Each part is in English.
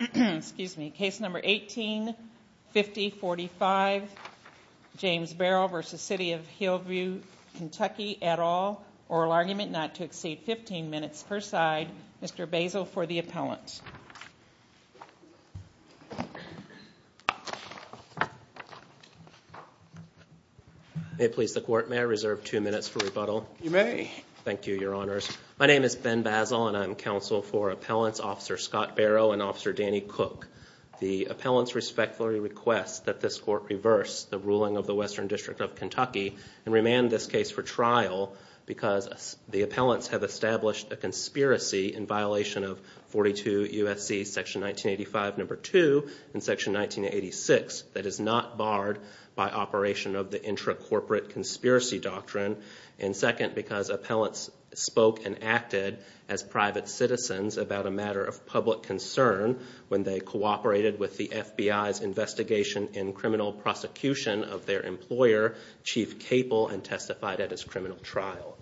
Excuse me. Case number 18-5045, James Barrow v. City of Hillview Kentucky et al. Oral argument not to exceed 15 minutes per side. Mr. Basil for the appellant. May I please the court? May I reserve two minutes for rebuttal? You may. Thank you, Your Honors. My name is Ben Basil and I'm counsel for appellants Officer Scott Barrow and Officer Danny Cook. The appellants respectfully request that this court reverse the ruling of the Western District of Kentucky and remand this case for trial because the appellants have established a conspiracy in violation of 42 U.S.C. section 1985 number 2 and section 1986 that is not barred by operation of the intra-corporate conspiracy doctrine. And second, because appellants spoke and acted as private citizens about a matter of public concern when they cooperated with the FBI's investigation in criminal prosecution of their employer, Chief Capel, and testified at his criminal trial.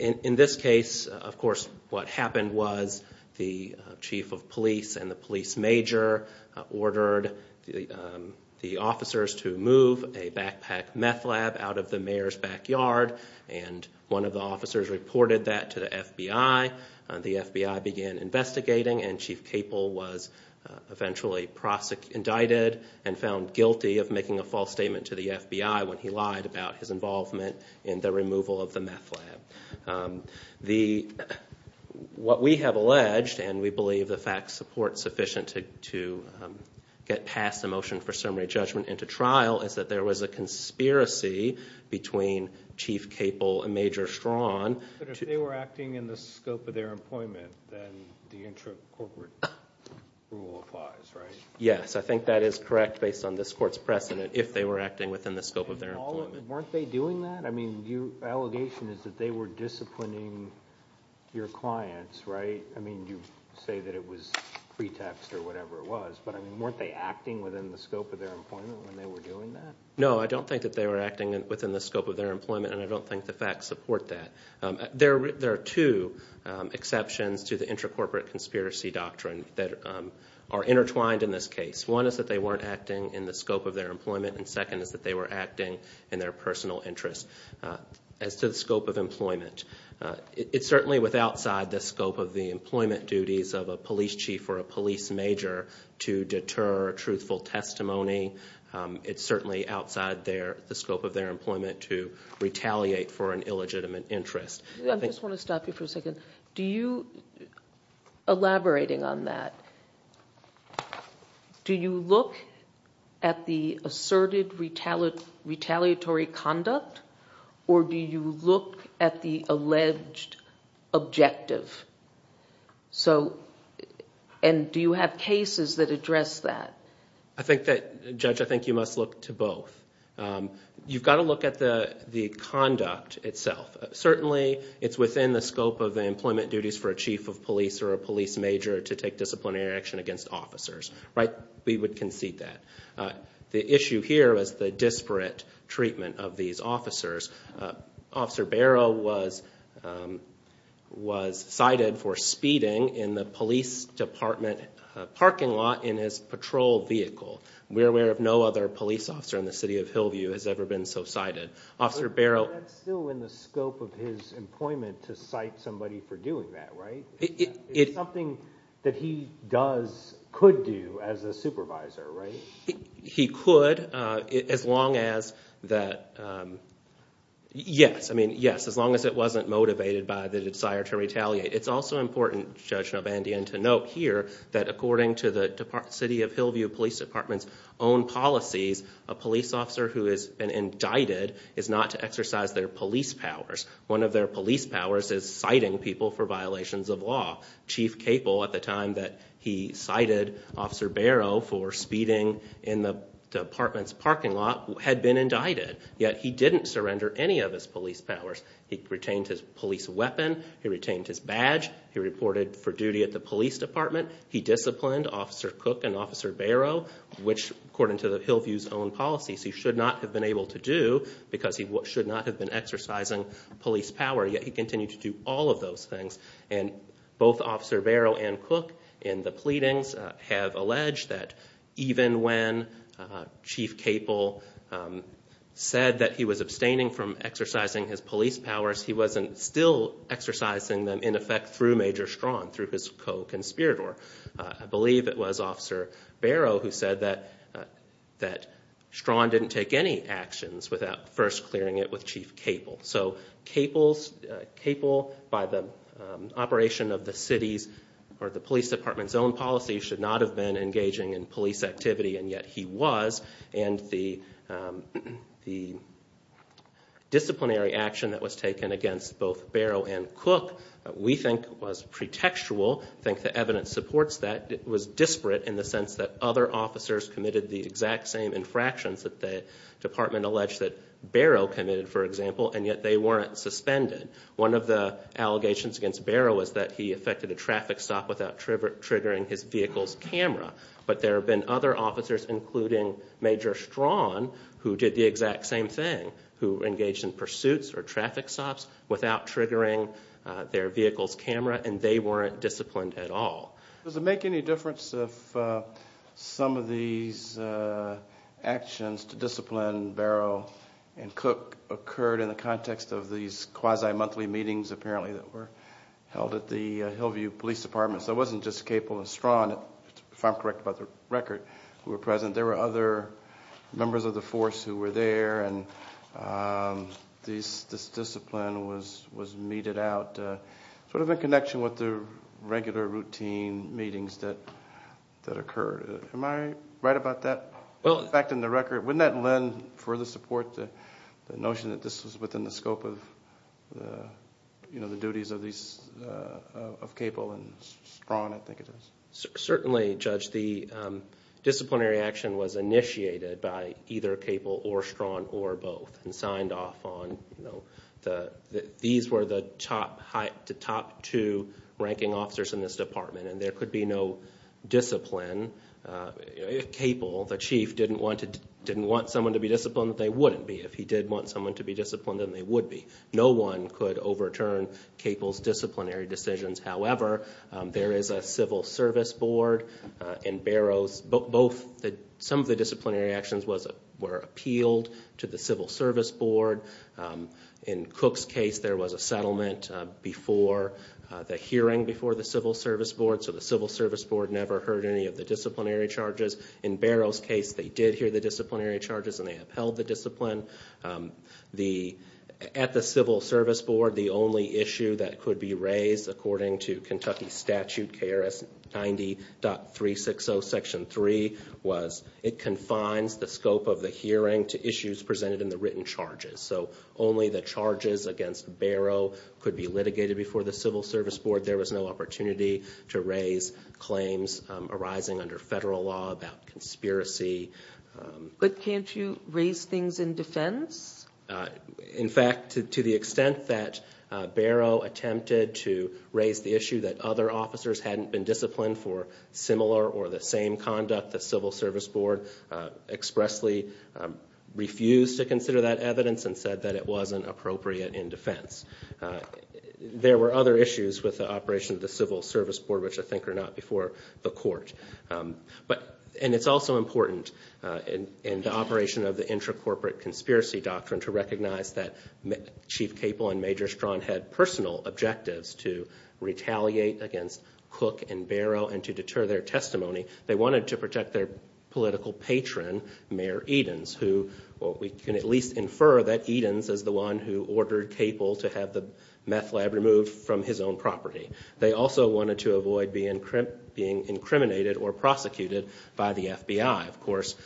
In this case, of course, what happened was the chief of police and the police major ordered the officers to move a backpack meth lab out of the mayor's backyard and one of the officers reported that to the FBI. The FBI began investigating and Chief Capel was eventually indicted and found guilty of making a false statement to the FBI when he lied about his involvement in the removal of the meth lab. What we have alleged, and we believe the facts support sufficient to get past the motion for summary judgment into trial, is that there was a conspiracy between Chief Capel and Major Straughn. But if they were acting in the scope of their employment, then the intra-corporate rule applies, right? Yes, I think that is correct based on this court's precedent, if they were acting within the scope of their employment. Weren't they doing that? I mean, your allegation is that they were disciplining your clients, right? I mean, you say that it was pretext or whatever it was, but weren't they acting within the scope of their employment when they were doing that? No, I don't think that they were acting within the scope of their employment and I don't think the facts support that. There are two exceptions to the intra-corporate conspiracy doctrine that are intertwined in this case. One is that they weren't acting in the scope of their employment, and second is that they were acting in their personal interest. As to the scope of employment, it's certainly outside the scope of the employment duties of a police chief or a police major to deter truthful testimony. It's certainly outside the scope of their employment to retaliate for an illegitimate interest. I just want to stop you for a second. Elaborating on that, do you look at the asserted retaliatory conduct or do you look at the alleged objective? And do you have cases that address that? Judge, I think you must look to both. You've got to look at the conduct itself. Certainly, it's within the scope of the employment duties for a chief of police or a police major to take disciplinary action against officers. We would concede that. The issue here is the disparate treatment of these officers. Officer Barrow was cited for speeding in the police department parking lot in his patrol vehicle. We're aware of no other police officer in the city of Hillview who has ever been so cited. But that's still in the scope of his employment to cite somebody for doing that, right? It's something that he could do as a supervisor, right? He could as long as it wasn't motivated by the desire to retaliate. It's also important, Judge Novandian, to note here that according to the City of Hillview Police Department's own policies, a police officer who has been indicted is not to exercise their police powers. One of their police powers is citing people for violations of law. Chief Capel, at the time that he cited Officer Barrow for speeding in the department's parking lot, had been indicted. Yet, he didn't surrender any of his police powers. He retained his police weapon. He retained his badge. He reported for duty at the police department. He disciplined Officer Cook and Officer Barrow, which according to the Hillview's own policies, he should not have been able to do because he should not have been exercising police power. Yet, he continued to do all of those things. Both Officer Barrow and Cook, in the pleadings, have alleged that even when Chief Capel said that he was abstaining from exercising his police powers, he wasn't still exercising them in effect through Major Straughn, through his co-conspirator. I believe it was Officer Barrow who said that Straughn didn't take any actions without first clearing it with Chief Capel. Capel, by the operation of the city's or the police department's own policy, should not have been engaging in police activity. Yet, he was. The disciplinary action that was taken against both Barrow and Cook, we think was pretextual. I think the evidence supports that. It was disparate in the sense that other officers committed the exact same infractions that the department alleged that Barrow committed, for example. Yet, they weren't suspended. One of the allegations against Barrow was that he effected a traffic stop without triggering his vehicle's camera. There have been other officers, including Major Straughn, who did the exact same thing, who engaged in pursuits or traffic stops without triggering their vehicle's camera. They weren't disciplined at all. Does it make any difference if some of these actions to discipline Barrow and Cook occurred in the context of these quasi-monthly meetings, apparently, that were held at the Hillview Police Department? So it wasn't just Capel and Straughn, if I'm correct by the record, who were present. There were other members of the force who were there, and this discipline was meted out, sort of in connection with the regular routine meetings that occurred. Am I right about that fact in the record? Wouldn't that lend further support to the notion that this was within the scope of the duties of Capel and Straughn, I think it is? Certainly, Judge. The disciplinary action was initiated by either Capel or Straughn or both and signed off on. These were the top two ranking officers in this department, and there could be no discipline. If Capel, the chief, didn't want someone to be disciplined, they wouldn't be. If he did want someone to be disciplined, then they would be. No one could overturn Capel's disciplinary decisions. However, there is a civil service board in Barrows. Some of the disciplinary actions were appealed to the civil service board. In Cook's case, there was a settlement before the hearing before the civil service board, so the civil service board never heard any of the disciplinary charges. In Barrows' case, they did hear the disciplinary charges and they upheld the discipline. At the civil service board, the only issue that could be raised, according to Kentucky Statute KRS 90.360 Section 3, was it confines the scope of the hearing to issues presented in the written charges. So only the charges against Barrow could be litigated before the civil service board. There was no opportunity to raise claims arising under federal law about conspiracy. But can't you raise things in defense? In fact, to the extent that Barrow attempted to raise the issue that other officers hadn't been disciplined for similar or the same conduct, the civil service board expressly refused to consider that evidence and said that it wasn't appropriate in defense. There were other issues with the operation of the civil service board, which I think are not before the court. And it's also important in the operation of the intra-corporate conspiracy doctrine to recognize that Chief Capel and Major Strawn had personal objectives to retaliate against Cook and Barrow and to deter their testimony. They wanted to protect their political patron, Mayor Edens, who we can at least infer that Edens is the one who ordered Capel to have the meth lab removed from his own property. They also wanted to avoid being incriminated or prosecuted by the FBI. Of course,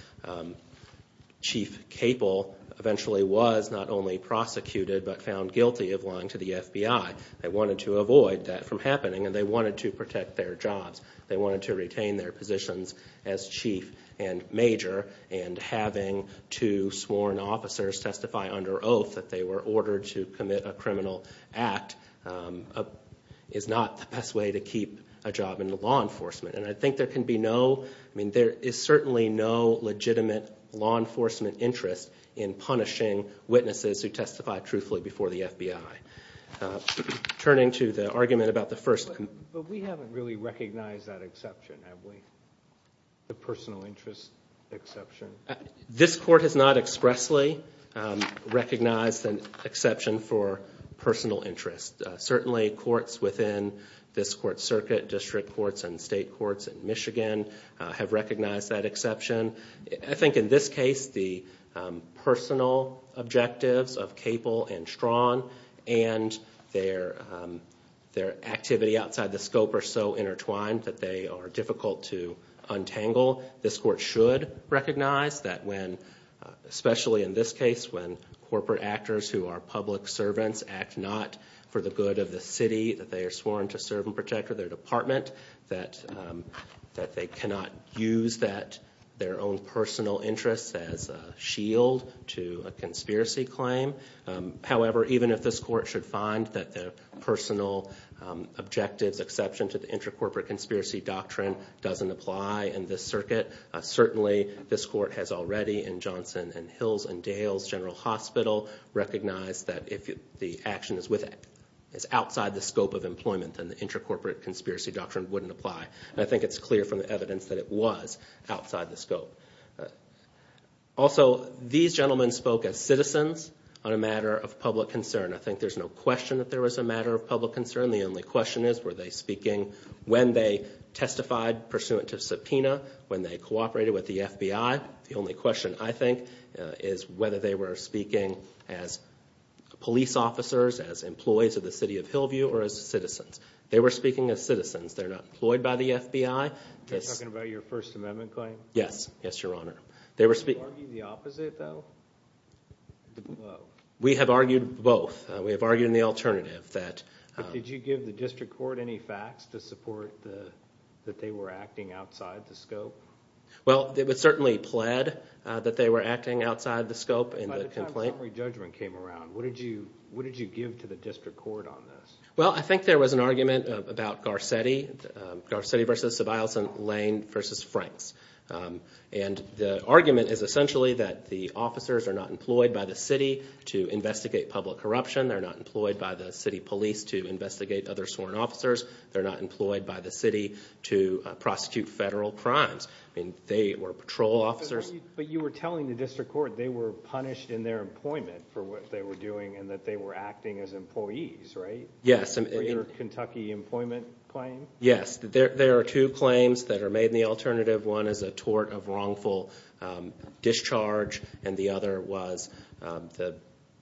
Chief Capel eventually was not only prosecuted but found guilty of lying to the FBI. They wanted to avoid that from happening, and they wanted to protect their jobs. They wanted to retain their positions as chief and major, and having two sworn officers testify under oath that they were ordered to commit a criminal act is not the best way to keep a job in law enforcement. And I think there can be no—I mean, there is certainly no legitimate law enforcement interest in punishing witnesses who testify truthfully before the FBI. Turning to the argument about the first— But we haven't really recognized that exception, have we, the personal interest exception? This Court has not expressly recognized an exception for personal interest. Certainly, courts within this Court's circuit, district courts and state courts in Michigan, have recognized that exception. I think in this case, the personal objectives of Capel and Strawn and their activity outside the scope are so intertwined that they are difficult to untangle. This Court should recognize that when, especially in this case, when corporate actors who are public servants act not for the good of the city, that they are sworn to serve and protect their department, that they cannot use their own personal interests as a shield to a conspiracy claim. However, even if this Court should find that the personal objectives exception to the Intracorporate Conspiracy Doctrine doesn't apply in this circuit, certainly this Court has already, in Johnson and Hills and Dales General Hospital, recognized that if the action is outside the scope of employment, then the Intracorporate Conspiracy Doctrine wouldn't apply. And I think it's clear from the evidence that it was outside the scope. Also, these gentlemen spoke as citizens on a matter of public concern. I think there's no question that there was a matter of public concern. The only question is, were they speaking when they testified pursuant to subpoena, when they cooperated with the FBI? The only question, I think, is whether they were speaking as police officers, as employees of the city of Hillview, or as citizens. They were speaking as citizens. They're not employed by the FBI. You're talking about your First Amendment claim? Yes. Yes, Your Honor. Did you argue the opposite, though? We have argued both. We have argued in the alternative that— But did you give the District Court any facts to support that they were acting outside the scope? Well, it was certainly pled that they were acting outside the scope in the complaint. By the time summary judgment came around, what did you give to the District Court on this? Well, I think there was an argument about Garcetti, Garcetti v. Sobielson, Lane v. Franks. And the argument is essentially that the officers are not employed by the city to investigate public corruption. They're not employed by the city police to investigate other sworn officers. They're not employed by the city to prosecute federal crimes. I mean, they were patrol officers. But you were telling the District Court they were punished in their employment for what they were doing and that they were acting as employees, right? Yes. For your Kentucky employment claim? Yes. There are two claims that are made in the alternative. One is a tort of wrongful discharge, and the other was the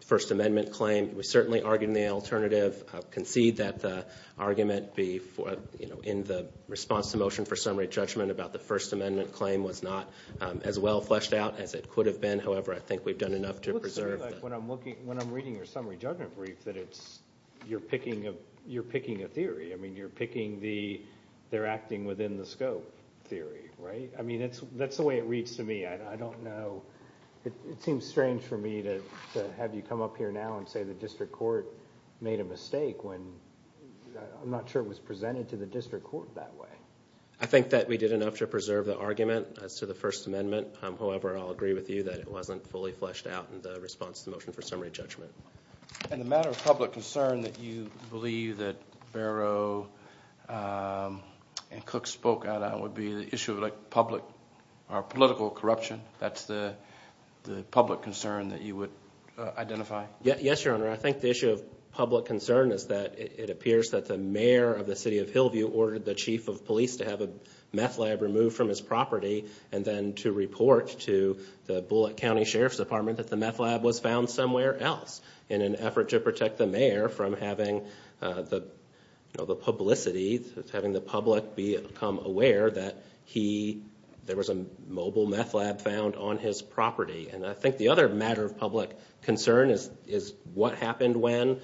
First Amendment claim. We certainly argued in the alternative, concede that the argument in the response to motion for summary judgment about the First Amendment claim was not as well fleshed out as it could have been. However, I think we've done enough to preserve that. It looks to me like when I'm reading your summary judgment brief that you're picking a theory. I mean, you're picking the they're acting within the scope theory, right? I mean, that's the way it reads to me. I don't know. It seems strange for me to have you come up here now and say the District Court made a mistake when I'm not sure it was presented to the District Court that way. I think that we did enough to preserve the argument as to the First Amendment. However, I'll agree with you that it wasn't fully fleshed out in the response to the motion for summary judgment. And the matter of public concern that you believe that Barrow and Cook spoke out on would be the issue of public or political corruption. That's the public concern that you would identify? Yes, Your Honor. I think the issue of public concern is that it appears that the mayor of the city of Hillview ordered the chief of police to have a meth lab removed from his property and then to report to the Bullitt County Sheriff's Department that the meth lab was found somewhere else in an effort to protect the mayor from having the publicity, having the public become aware that there was a mobile meth lab found on his property. And I think the other matter of public concern is what happened when,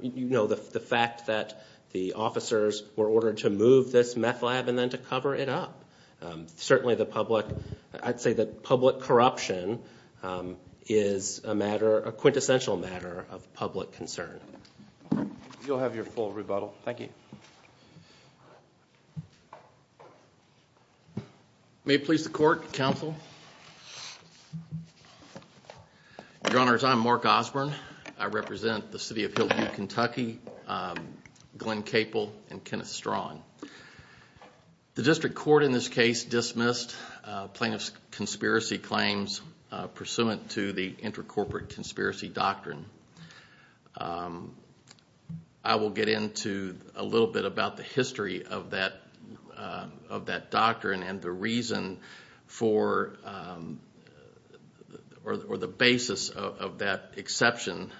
you know, the fact that the officers were ordered to move this meth lab and then to cover it up. Certainly the public, I'd say that public corruption is a matter, a quintessential matter of public concern. You'll have your full rebuttal. Thank you. May it please the Court, Counsel. Your Honors, I'm Mark Osborne. I represent the city of Hillview, Kentucky, Glenn Capel, and Kenneth Straughan. The district court in this case dismissed plaintiff's conspiracy claims pursuant to the intercorporate conspiracy doctrine. I will get into a little bit about the history of that doctrine and the reason for or the basis of that exception.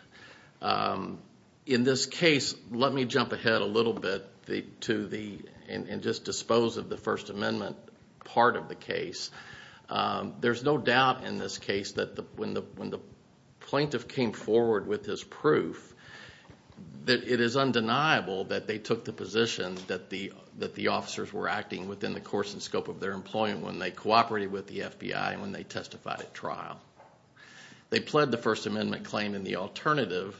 In this case, let me jump ahead a little bit and just dispose of the First Amendment part of the case. There's no doubt in this case that when the plaintiff came forward with his proof, it is undeniable that they took the position that the officers were acting within the course and scope of their employment when they cooperated with the FBI and when they testified at trial. They pled the First Amendment claim in the alternative.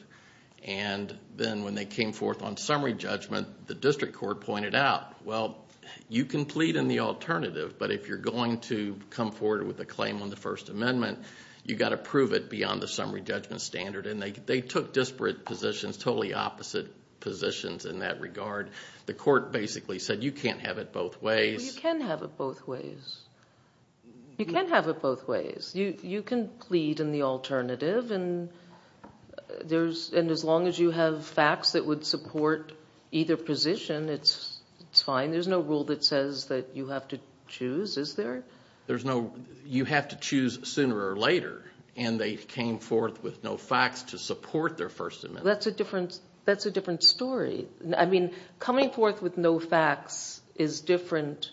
Then when they came forth on summary judgment, the district court pointed out, well, you can plead in the alternative, but if you're going to come forward with a claim on the First Amendment, you've got to prove it beyond the summary judgment standard. They took disparate positions, totally opposite positions in that regard. The court basically said, you can't have it both ways. You can have it both ways. You can have it both ways. You can plead in the alternative, and as long as you have facts that would support either position, it's fine. There's no rule that says that you have to choose, is there? You have to choose sooner or later, and they came forth with no facts to support their First Amendment. That's a different story. Coming forth with no facts is different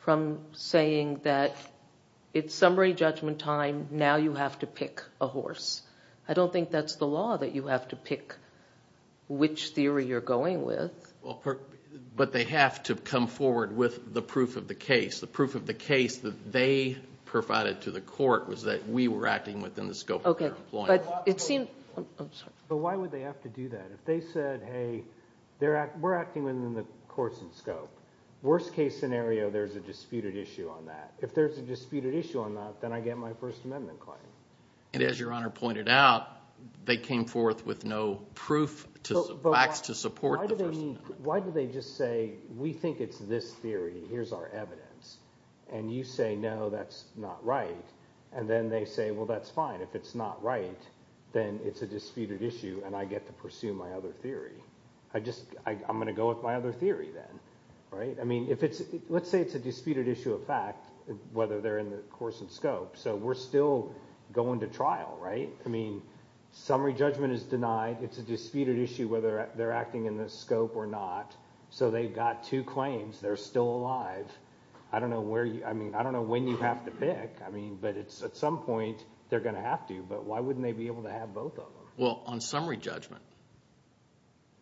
from saying that it's summary judgment time, now you have to pick a horse. I don't think that's the law that you have to pick which theory you're going with. But they have to come forward with the proof of the case. The proof of the case that they provided to the court was that we were acting within the scope of our employment. But why would they have to do that? If they said, hey, we're acting within the court's scope. Worst case scenario, there's a disputed issue on that. If there's a disputed issue on that, then I get my First Amendment claim. And as Your Honor pointed out, they came forth with no proof, facts to support the First Amendment. Why do they just say, we think it's this theory, here's our evidence, and you say, no, that's not right. And then they say, well, that's fine. If it's not right, then it's a disputed issue, and I get to pursue my other theory. I'm going to go with my other theory then. Let's say it's a disputed issue of fact, whether they're in the course and scope. So we're still going to trial, right? Summary judgment is denied. It's a disputed issue whether they're acting in the scope or not. So they've got two claims. They're still alive. I don't know when you have to pick, but at some point they're going to have to. But why wouldn't they be able to have both of them? Well, on summary judgment.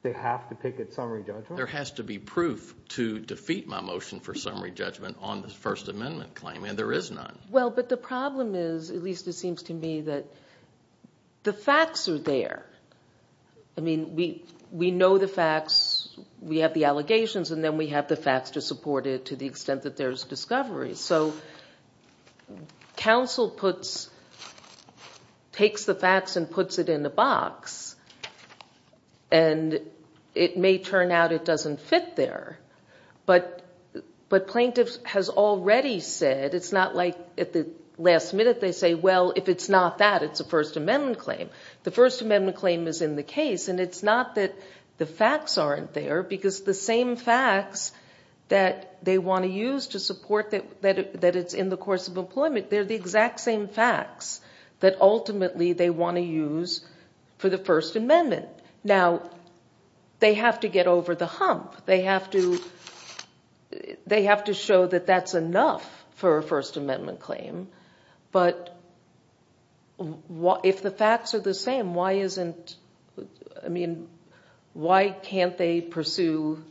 They have to pick at summary judgment? There has to be proof to defeat my motion for summary judgment on the First Amendment claim, and there is none. Well, but the problem is, at least it seems to me, that the facts are there. I mean, we know the facts. We have the allegations, and then we have the facts to support it to the extent that there's discovery. So counsel takes the facts and puts it in a box, and it may turn out it doesn't fit there. But plaintiffs have already said, it's not like at the last minute they say, well, if it's not that, it's a First Amendment claim. The First Amendment claim is in the case, and it's not that the facts aren't there, because the same facts that they want to use to support that it's in the course of employment, they're the exact same facts that ultimately they want to use for the First Amendment. Now, they have to get over the hump. They have to show that that's enough for a First Amendment claim. But if the facts are the same, why can't they pursue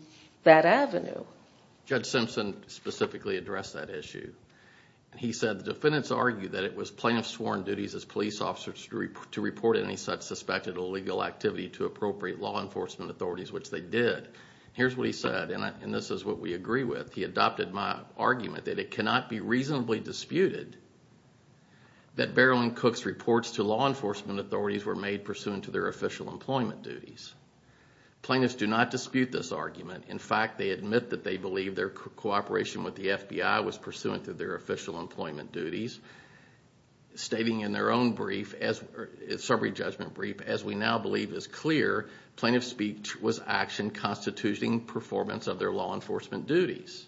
that avenue? Judge Simpson specifically addressed that issue. He said the defendants argued that it was plaintiffs' sworn duties as police officers to report any such suspected illegal activity to appropriate law enforcement authorities, which they did. Here's what he said, and this is what we agree with. He adopted my argument that it cannot be reasonably disputed that Beryl and Cook's reports to law enforcement authorities were made pursuant to their official employment duties. Plaintiffs do not dispute this argument. In fact, they admit that they believe their cooperation with the FBI was pursuant to their official employment duties, stating in their own brief, summary judgment brief, as we now believe is clear, plaintiff's speech was action constituting performance of their law enforcement duties.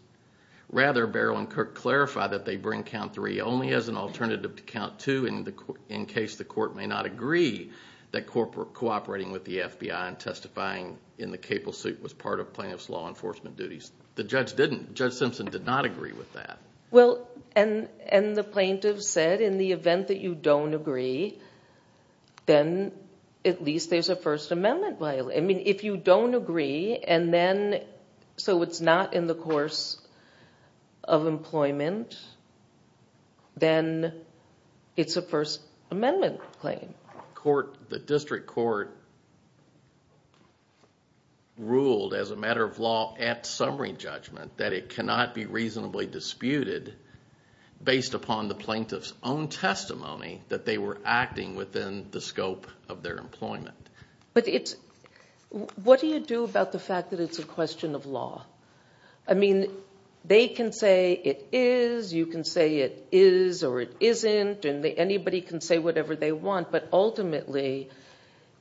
Rather, Beryl and Cook clarify that they bring count three only as an alternative to count two in case the court may not agree that cooperating with the FBI and testifying in the capo suit was part of plaintiffs' law enforcement duties. The judge didn't. Judge Simpson did not agree with that. Well, and the plaintiff said in the event that you don't agree, then at least there's a First Amendment violation. I mean, if you don't agree and then so it's not in the course of employment, then it's a First Amendment claim. The district court ruled as a matter of law at summary judgment that it cannot be reasonably disputed based upon the plaintiff's own testimony that they were acting within the scope of their employment. But what do you do about the fact that it's a question of law? I mean, they can say it is, you can say it is or it isn't, and anybody can say whatever they want, but ultimately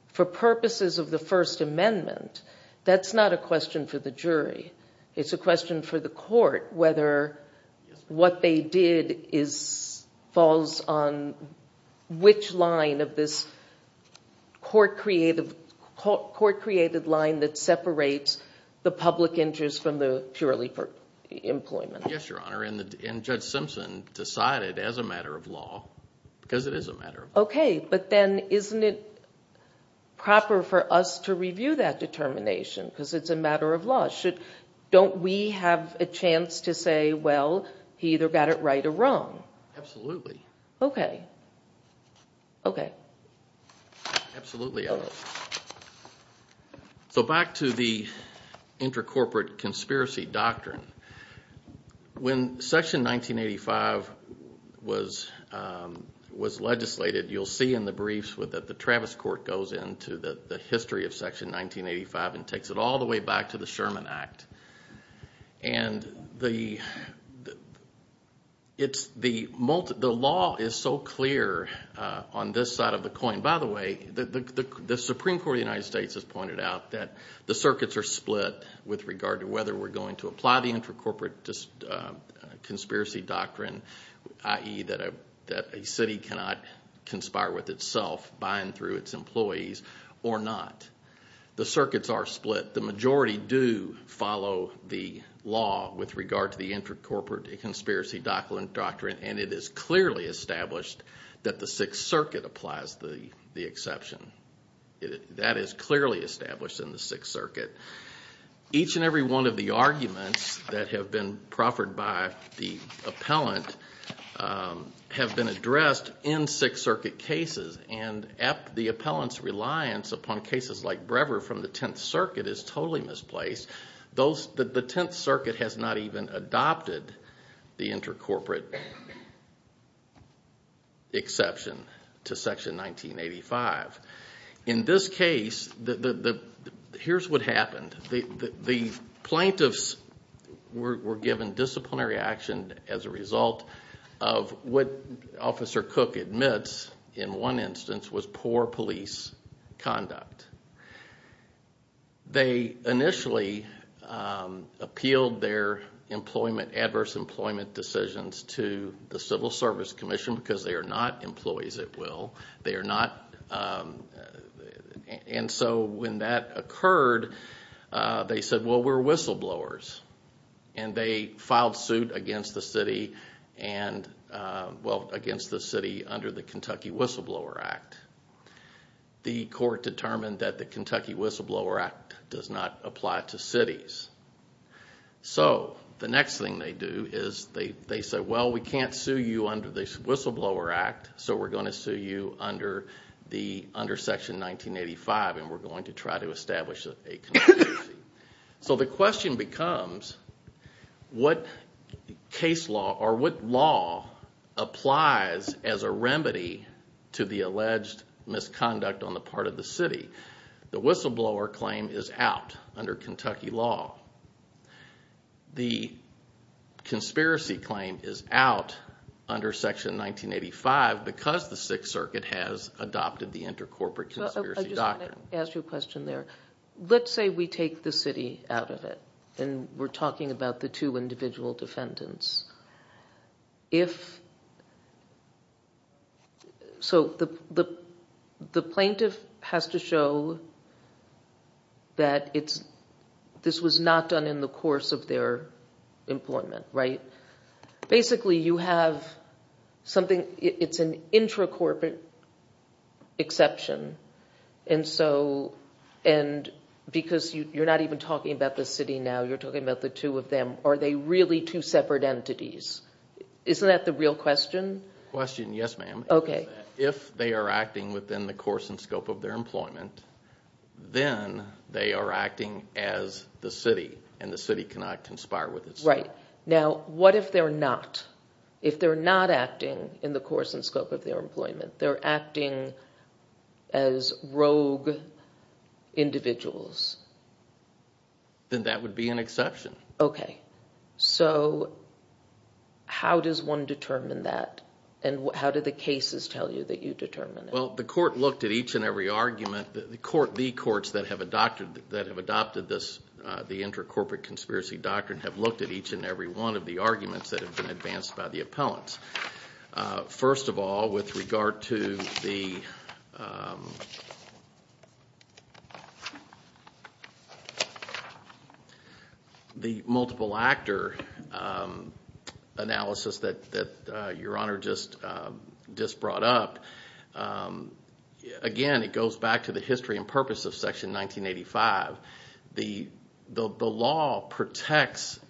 for purposes of the First Amendment, that's not a question for the jury. It's a question for the court whether what they did falls on which line of this court-created line that separates the public interest from the purely for employment. Yes, Your Honor, and Judge Simpson decided as a matter of law because it is a matter of law. Okay, but then isn't it proper for us to review that determination because it's a matter of law? Don't we have a chance to say, well, he either got it right or wrong? Absolutely. Okay, okay. Absolutely, Your Honor. So back to the inter-corporate conspiracy doctrine. When Section 1985 was legislated, you'll see in the briefs that the Travis Court goes into the history of Section 1985 and takes it all the way back to the Sherman Act. And the law is so clear on this side of the coin. By the way, the Supreme Court of the United States has pointed out that the circuits are split with regard to whether we're going to apply the inter-corporate conspiracy doctrine, i.e., that a city cannot conspire with itself by and through its employees or not. The circuits are split. The majority do follow the law with regard to the inter-corporate conspiracy doctrine, and it is clearly established that the Sixth Circuit applies the exception. That is clearly established in the Sixth Circuit. Each and every one of the arguments that have been proffered by the appellant have been addressed in Sixth Circuit cases, and the appellant's reliance upon cases like Brever from the Tenth Circuit is totally misplaced. The Tenth Circuit has not even adopted the inter-corporate exception to Section 1985. In this case, here's what happened. The plaintiffs were given disciplinary action as a result of what Officer Cook admits in one instance was poor police conduct. They initially appealed their adverse employment decisions to the Civil Service Commission because they are not employees at will. When that occurred, they said, well, we're whistleblowers. They filed suit against the city under the Kentucky Whistleblower Act. The court determined that the Kentucky Whistleblower Act does not apply to cities. The next thing they do is they say, well, we can't sue you under the Whistleblower Act, so we're going to sue you under Section 1985, and we're going to try to establish a conspiracy. The question becomes, what case law or what law applies as a remedy to the alleged misconduct on the part of the city? The whistleblower claim is out under Kentucky law. The conspiracy claim is out under Section 1985 because the Sixth Circuit has adopted the inter-corporate conspiracy doctrine. Let's say we take the city out of it, and we're talking about the two individual defendants. The plaintiff has to show that this was not done in the course of their employment. Basically, it's an inter-corporate exception because you're not even talking about the city now. You're talking about the two of them. Are they really two separate entities? Isn't that the real question? The question, yes, ma'am. If they are acting within the course and scope of their employment, then they are acting as the city, and the city cannot conspire with itself. Right. Now, what if they're not? If they're not acting in the course and scope of their employment, they're acting as rogue individuals? Then that would be an exception. Okay. How does one determine that, and how do the cases tell you that you determine it? The court looked at each and every argument. The courts that have adopted the inter-corporate conspiracy doctrine have looked at each and every one of the arguments that have been advanced by the appellants. First of all, with regard to the multiple actor analysis that Your Honor just brought up, again, it goes back to the history and purpose of Section 1985. The law protects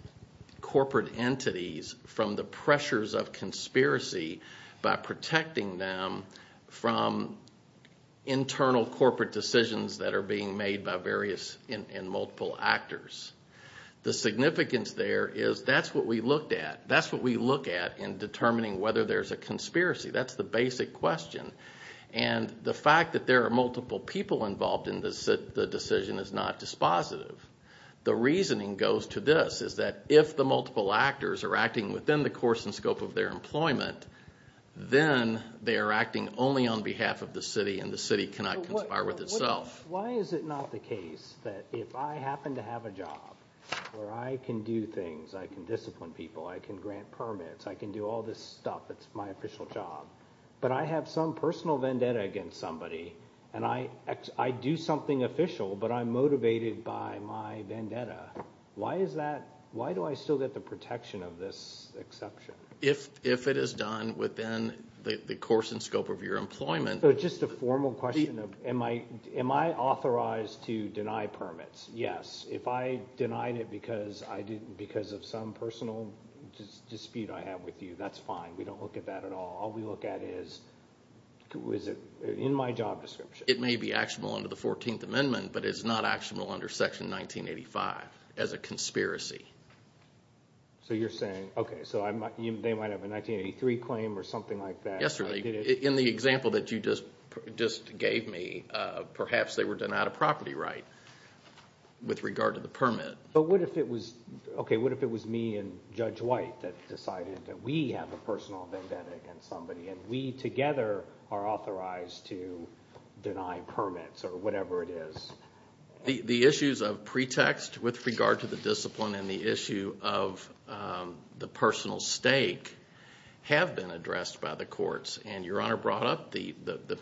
corporate entities from the pressures of conspiracy by protecting them from internal corporate decisions that are being made by various and multiple actors. The significance there is that's what we looked at. That's what we look at in determining whether there's a conspiracy. That's the basic question. The fact that there are multiple people involved in the decision is not dispositive. The reasoning goes to this, is that if the multiple actors are acting within the course and scope of their employment, then they are acting only on behalf of the city, and the city cannot conspire with itself. Why is it not the case that if I happen to have a job where I can do things, I can discipline people, I can grant permits, I can do all this stuff, it's my official job, but I have some personal vendetta against somebody, and I do something official, but I'm motivated by my vendetta. Why is that? Why do I still get the protection of this exception? If it is done within the course and scope of your employment. Just a formal question. Am I authorized to deny permits? Yes. If I denied it because of some personal dispute I have with you, that's fine. We don't look at that at all. All we look at is, is it in my job description? It may be actionable under the 14th Amendment, but it's not actionable under Section 1985 as a conspiracy. So you're saying, okay, so they might have a 1983 claim or something like that. In the example that you just gave me, perhaps they were denied a property right with regard to the permit. But what if it was me and Judge White that decided that we have a personal vendetta against somebody and we together are authorized to deny permits or whatever it is? The issues of pretext with regard to the discipline and the issue of the personal stake have been addressed by the courts, and Your Honor brought up the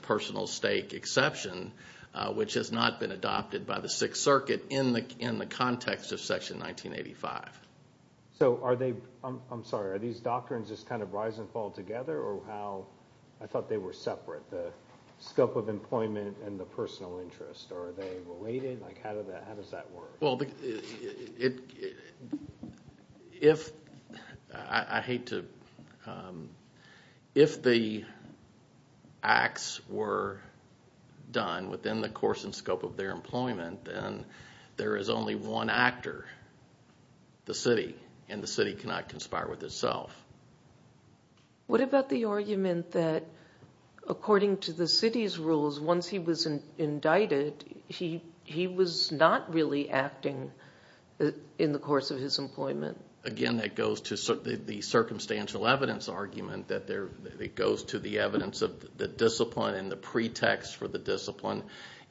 personal stake exception, which has not been adopted by the Sixth Circuit in the context of Section 1985. I'm sorry. Are these doctrines just kind of rise and fall together, or how? I thought they were separate, the scope of employment and the personal interest. Are they related? How does that work? If the acts were done within the course and scope of their employment, then there is only one actor, the city, and the city cannot conspire with itself. What about the argument that according to the city's rules, once he was indicted, he was not really acting in the course of his employment? Again, that goes to the circumstantial evidence argument, that it goes to the evidence of the discipline and the pretext for the discipline,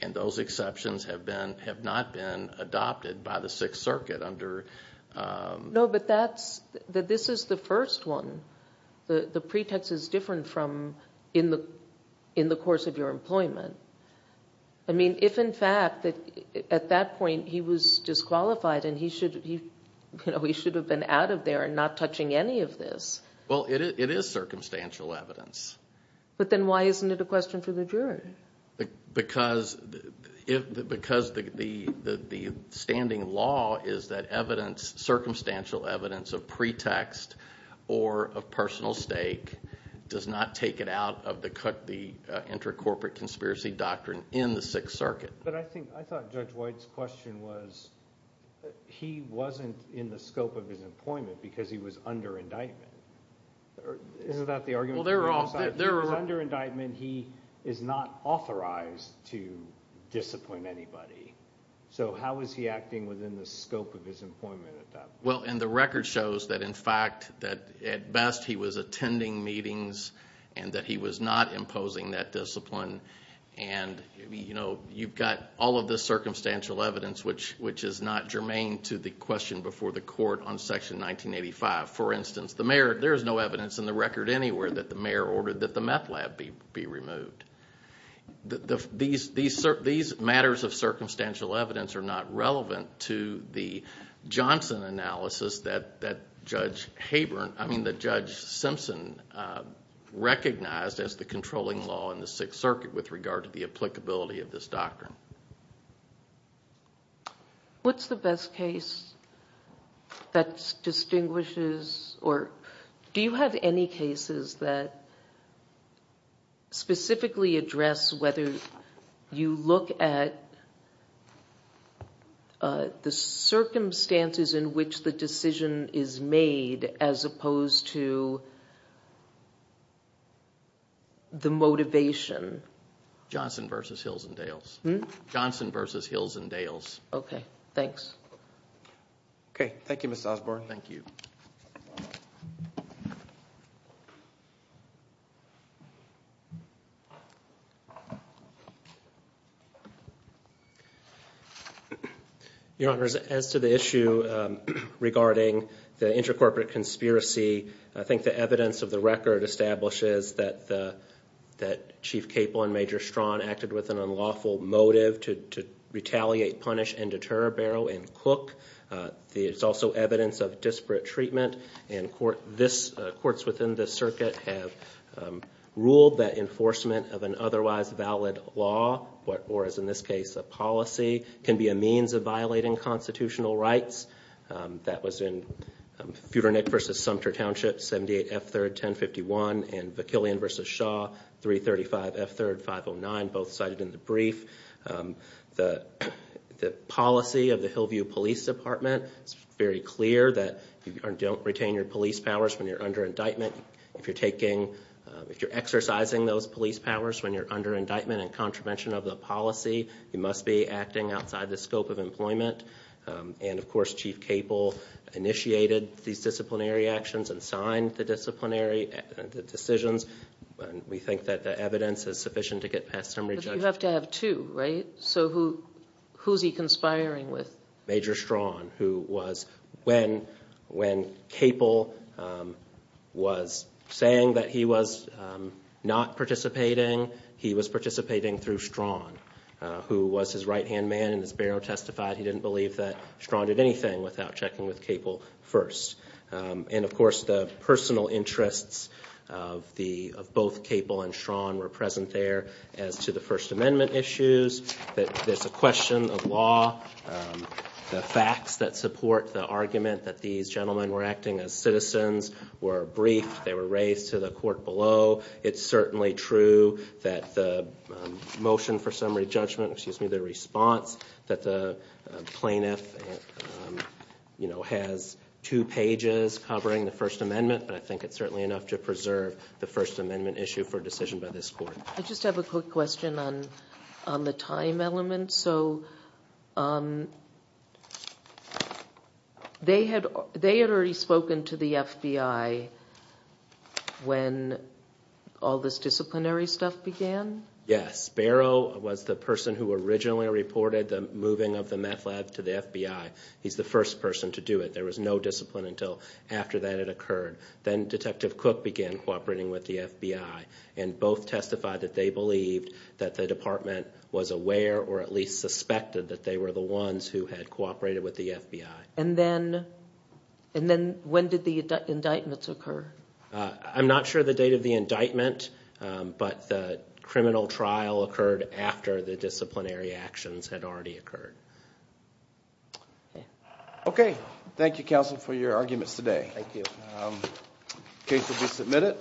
and those exceptions have not been adopted by the Sixth Circuit under... No, but this is the first one. The pretext is different from in the course of your employment. I mean, if in fact at that point he was disqualified and he should have been out of there and not touching any of this... Well, it is circumstantial evidence. But then why isn't it a question for the jury? Because the standing law is that circumstantial evidence of pretext or of personal stake does not take it out of the inter-corporate conspiracy doctrine in the Sixth Circuit. But I thought Judge White's question was he wasn't in the scope of his employment because he was under indictment. Isn't that the argument? He was under indictment. He is not authorized to disappoint anybody. So how was he acting within the scope of his employment at that point? Well, and the record shows that in fact that at best he was attending meetings and that he was not imposing that discipline. And, you know, you've got all of this circumstantial evidence which is not germane to the question before the court on Section 1985. For instance, the mayor, there is no evidence in the record anywhere that the mayor ordered that the meth lab be removed. These matters of circumstantial evidence are not relevant to the Johnson analysis that Judge Simpson recognized as the controlling law in the Sixth Circuit with regard to the applicability of this doctrine. What's the best case that distinguishes, or do you have any cases that specifically address whether you look at the circumstances in which the decision is made as opposed to the motivation? Johnson v. Hills and Dales. Johnson v. Hills and Dales. Okay. Thanks. Okay. Thank you, Mr. Osborne. Thank you. Your Honors, as to the issue regarding the intercorporate conspiracy, I think the evidence of the record establishes that Chief Capel and Major Strawn acted with an unlawful motive to retaliate, punish, and deter Barrow and Cook. It's also evidence of disparate treatment, and courts within this circuit have ruled that enforcement of an otherwise valid law, or as in this case a policy, can be a means of violating constitutional rights. That was in Feudernick v. Sumter Township, 78 F. 3rd, 1051, and Vakilian v. Shaw, 335 F. 3rd, 509, both cited in the brief. The policy of the Hillview Police Department, it's very clear that you don't retain your police powers when you're under indictment. If you're exercising those police powers when you're under indictment and contravention of the policy, you must be acting outside the scope of employment. And, of course, Chief Capel initiated these disciplinary actions and signed the disciplinary decisions. We think that the evidence is sufficient to get past summary judgment. But you have to have two, right? So who's he conspiring with? Major Strawn, who was, when Capel was saying that he was not participating, he was participating through Strawn, who was his right-hand man, and as Barrow testified, he didn't believe that Strawn did anything without checking with Capel first. And, of course, the personal interests of both Capel and Strawn were present there. As to the First Amendment issues, there's a question of law. The facts that support the argument that these gentlemen were acting as citizens were briefed. They were raised to the court below. It's certainly true that the motion for summary judgment, excuse me, the response, that the plaintiff has two pages covering the First Amendment, but I think it's certainly enough to preserve the First Amendment issue for a decision by this court. I just have a quick question on the time element. So they had already spoken to the FBI when all this disciplinary stuff began? Yes. Barrow was the person who originally reported the moving of the meth lab to the FBI. He's the first person to do it. There was no discipline until after that it occurred. Then Detective Cook began cooperating with the FBI, and both testified that they believed that the department was aware or at least suspected that they were the ones who had cooperated with the FBI. And then when did the indictments occur? I'm not sure the date of the indictment, but the criminal trial occurred after the disciplinary actions had already occurred. Okay. Thank you, counsel, for your arguments today. Thank you. The case will be submitted.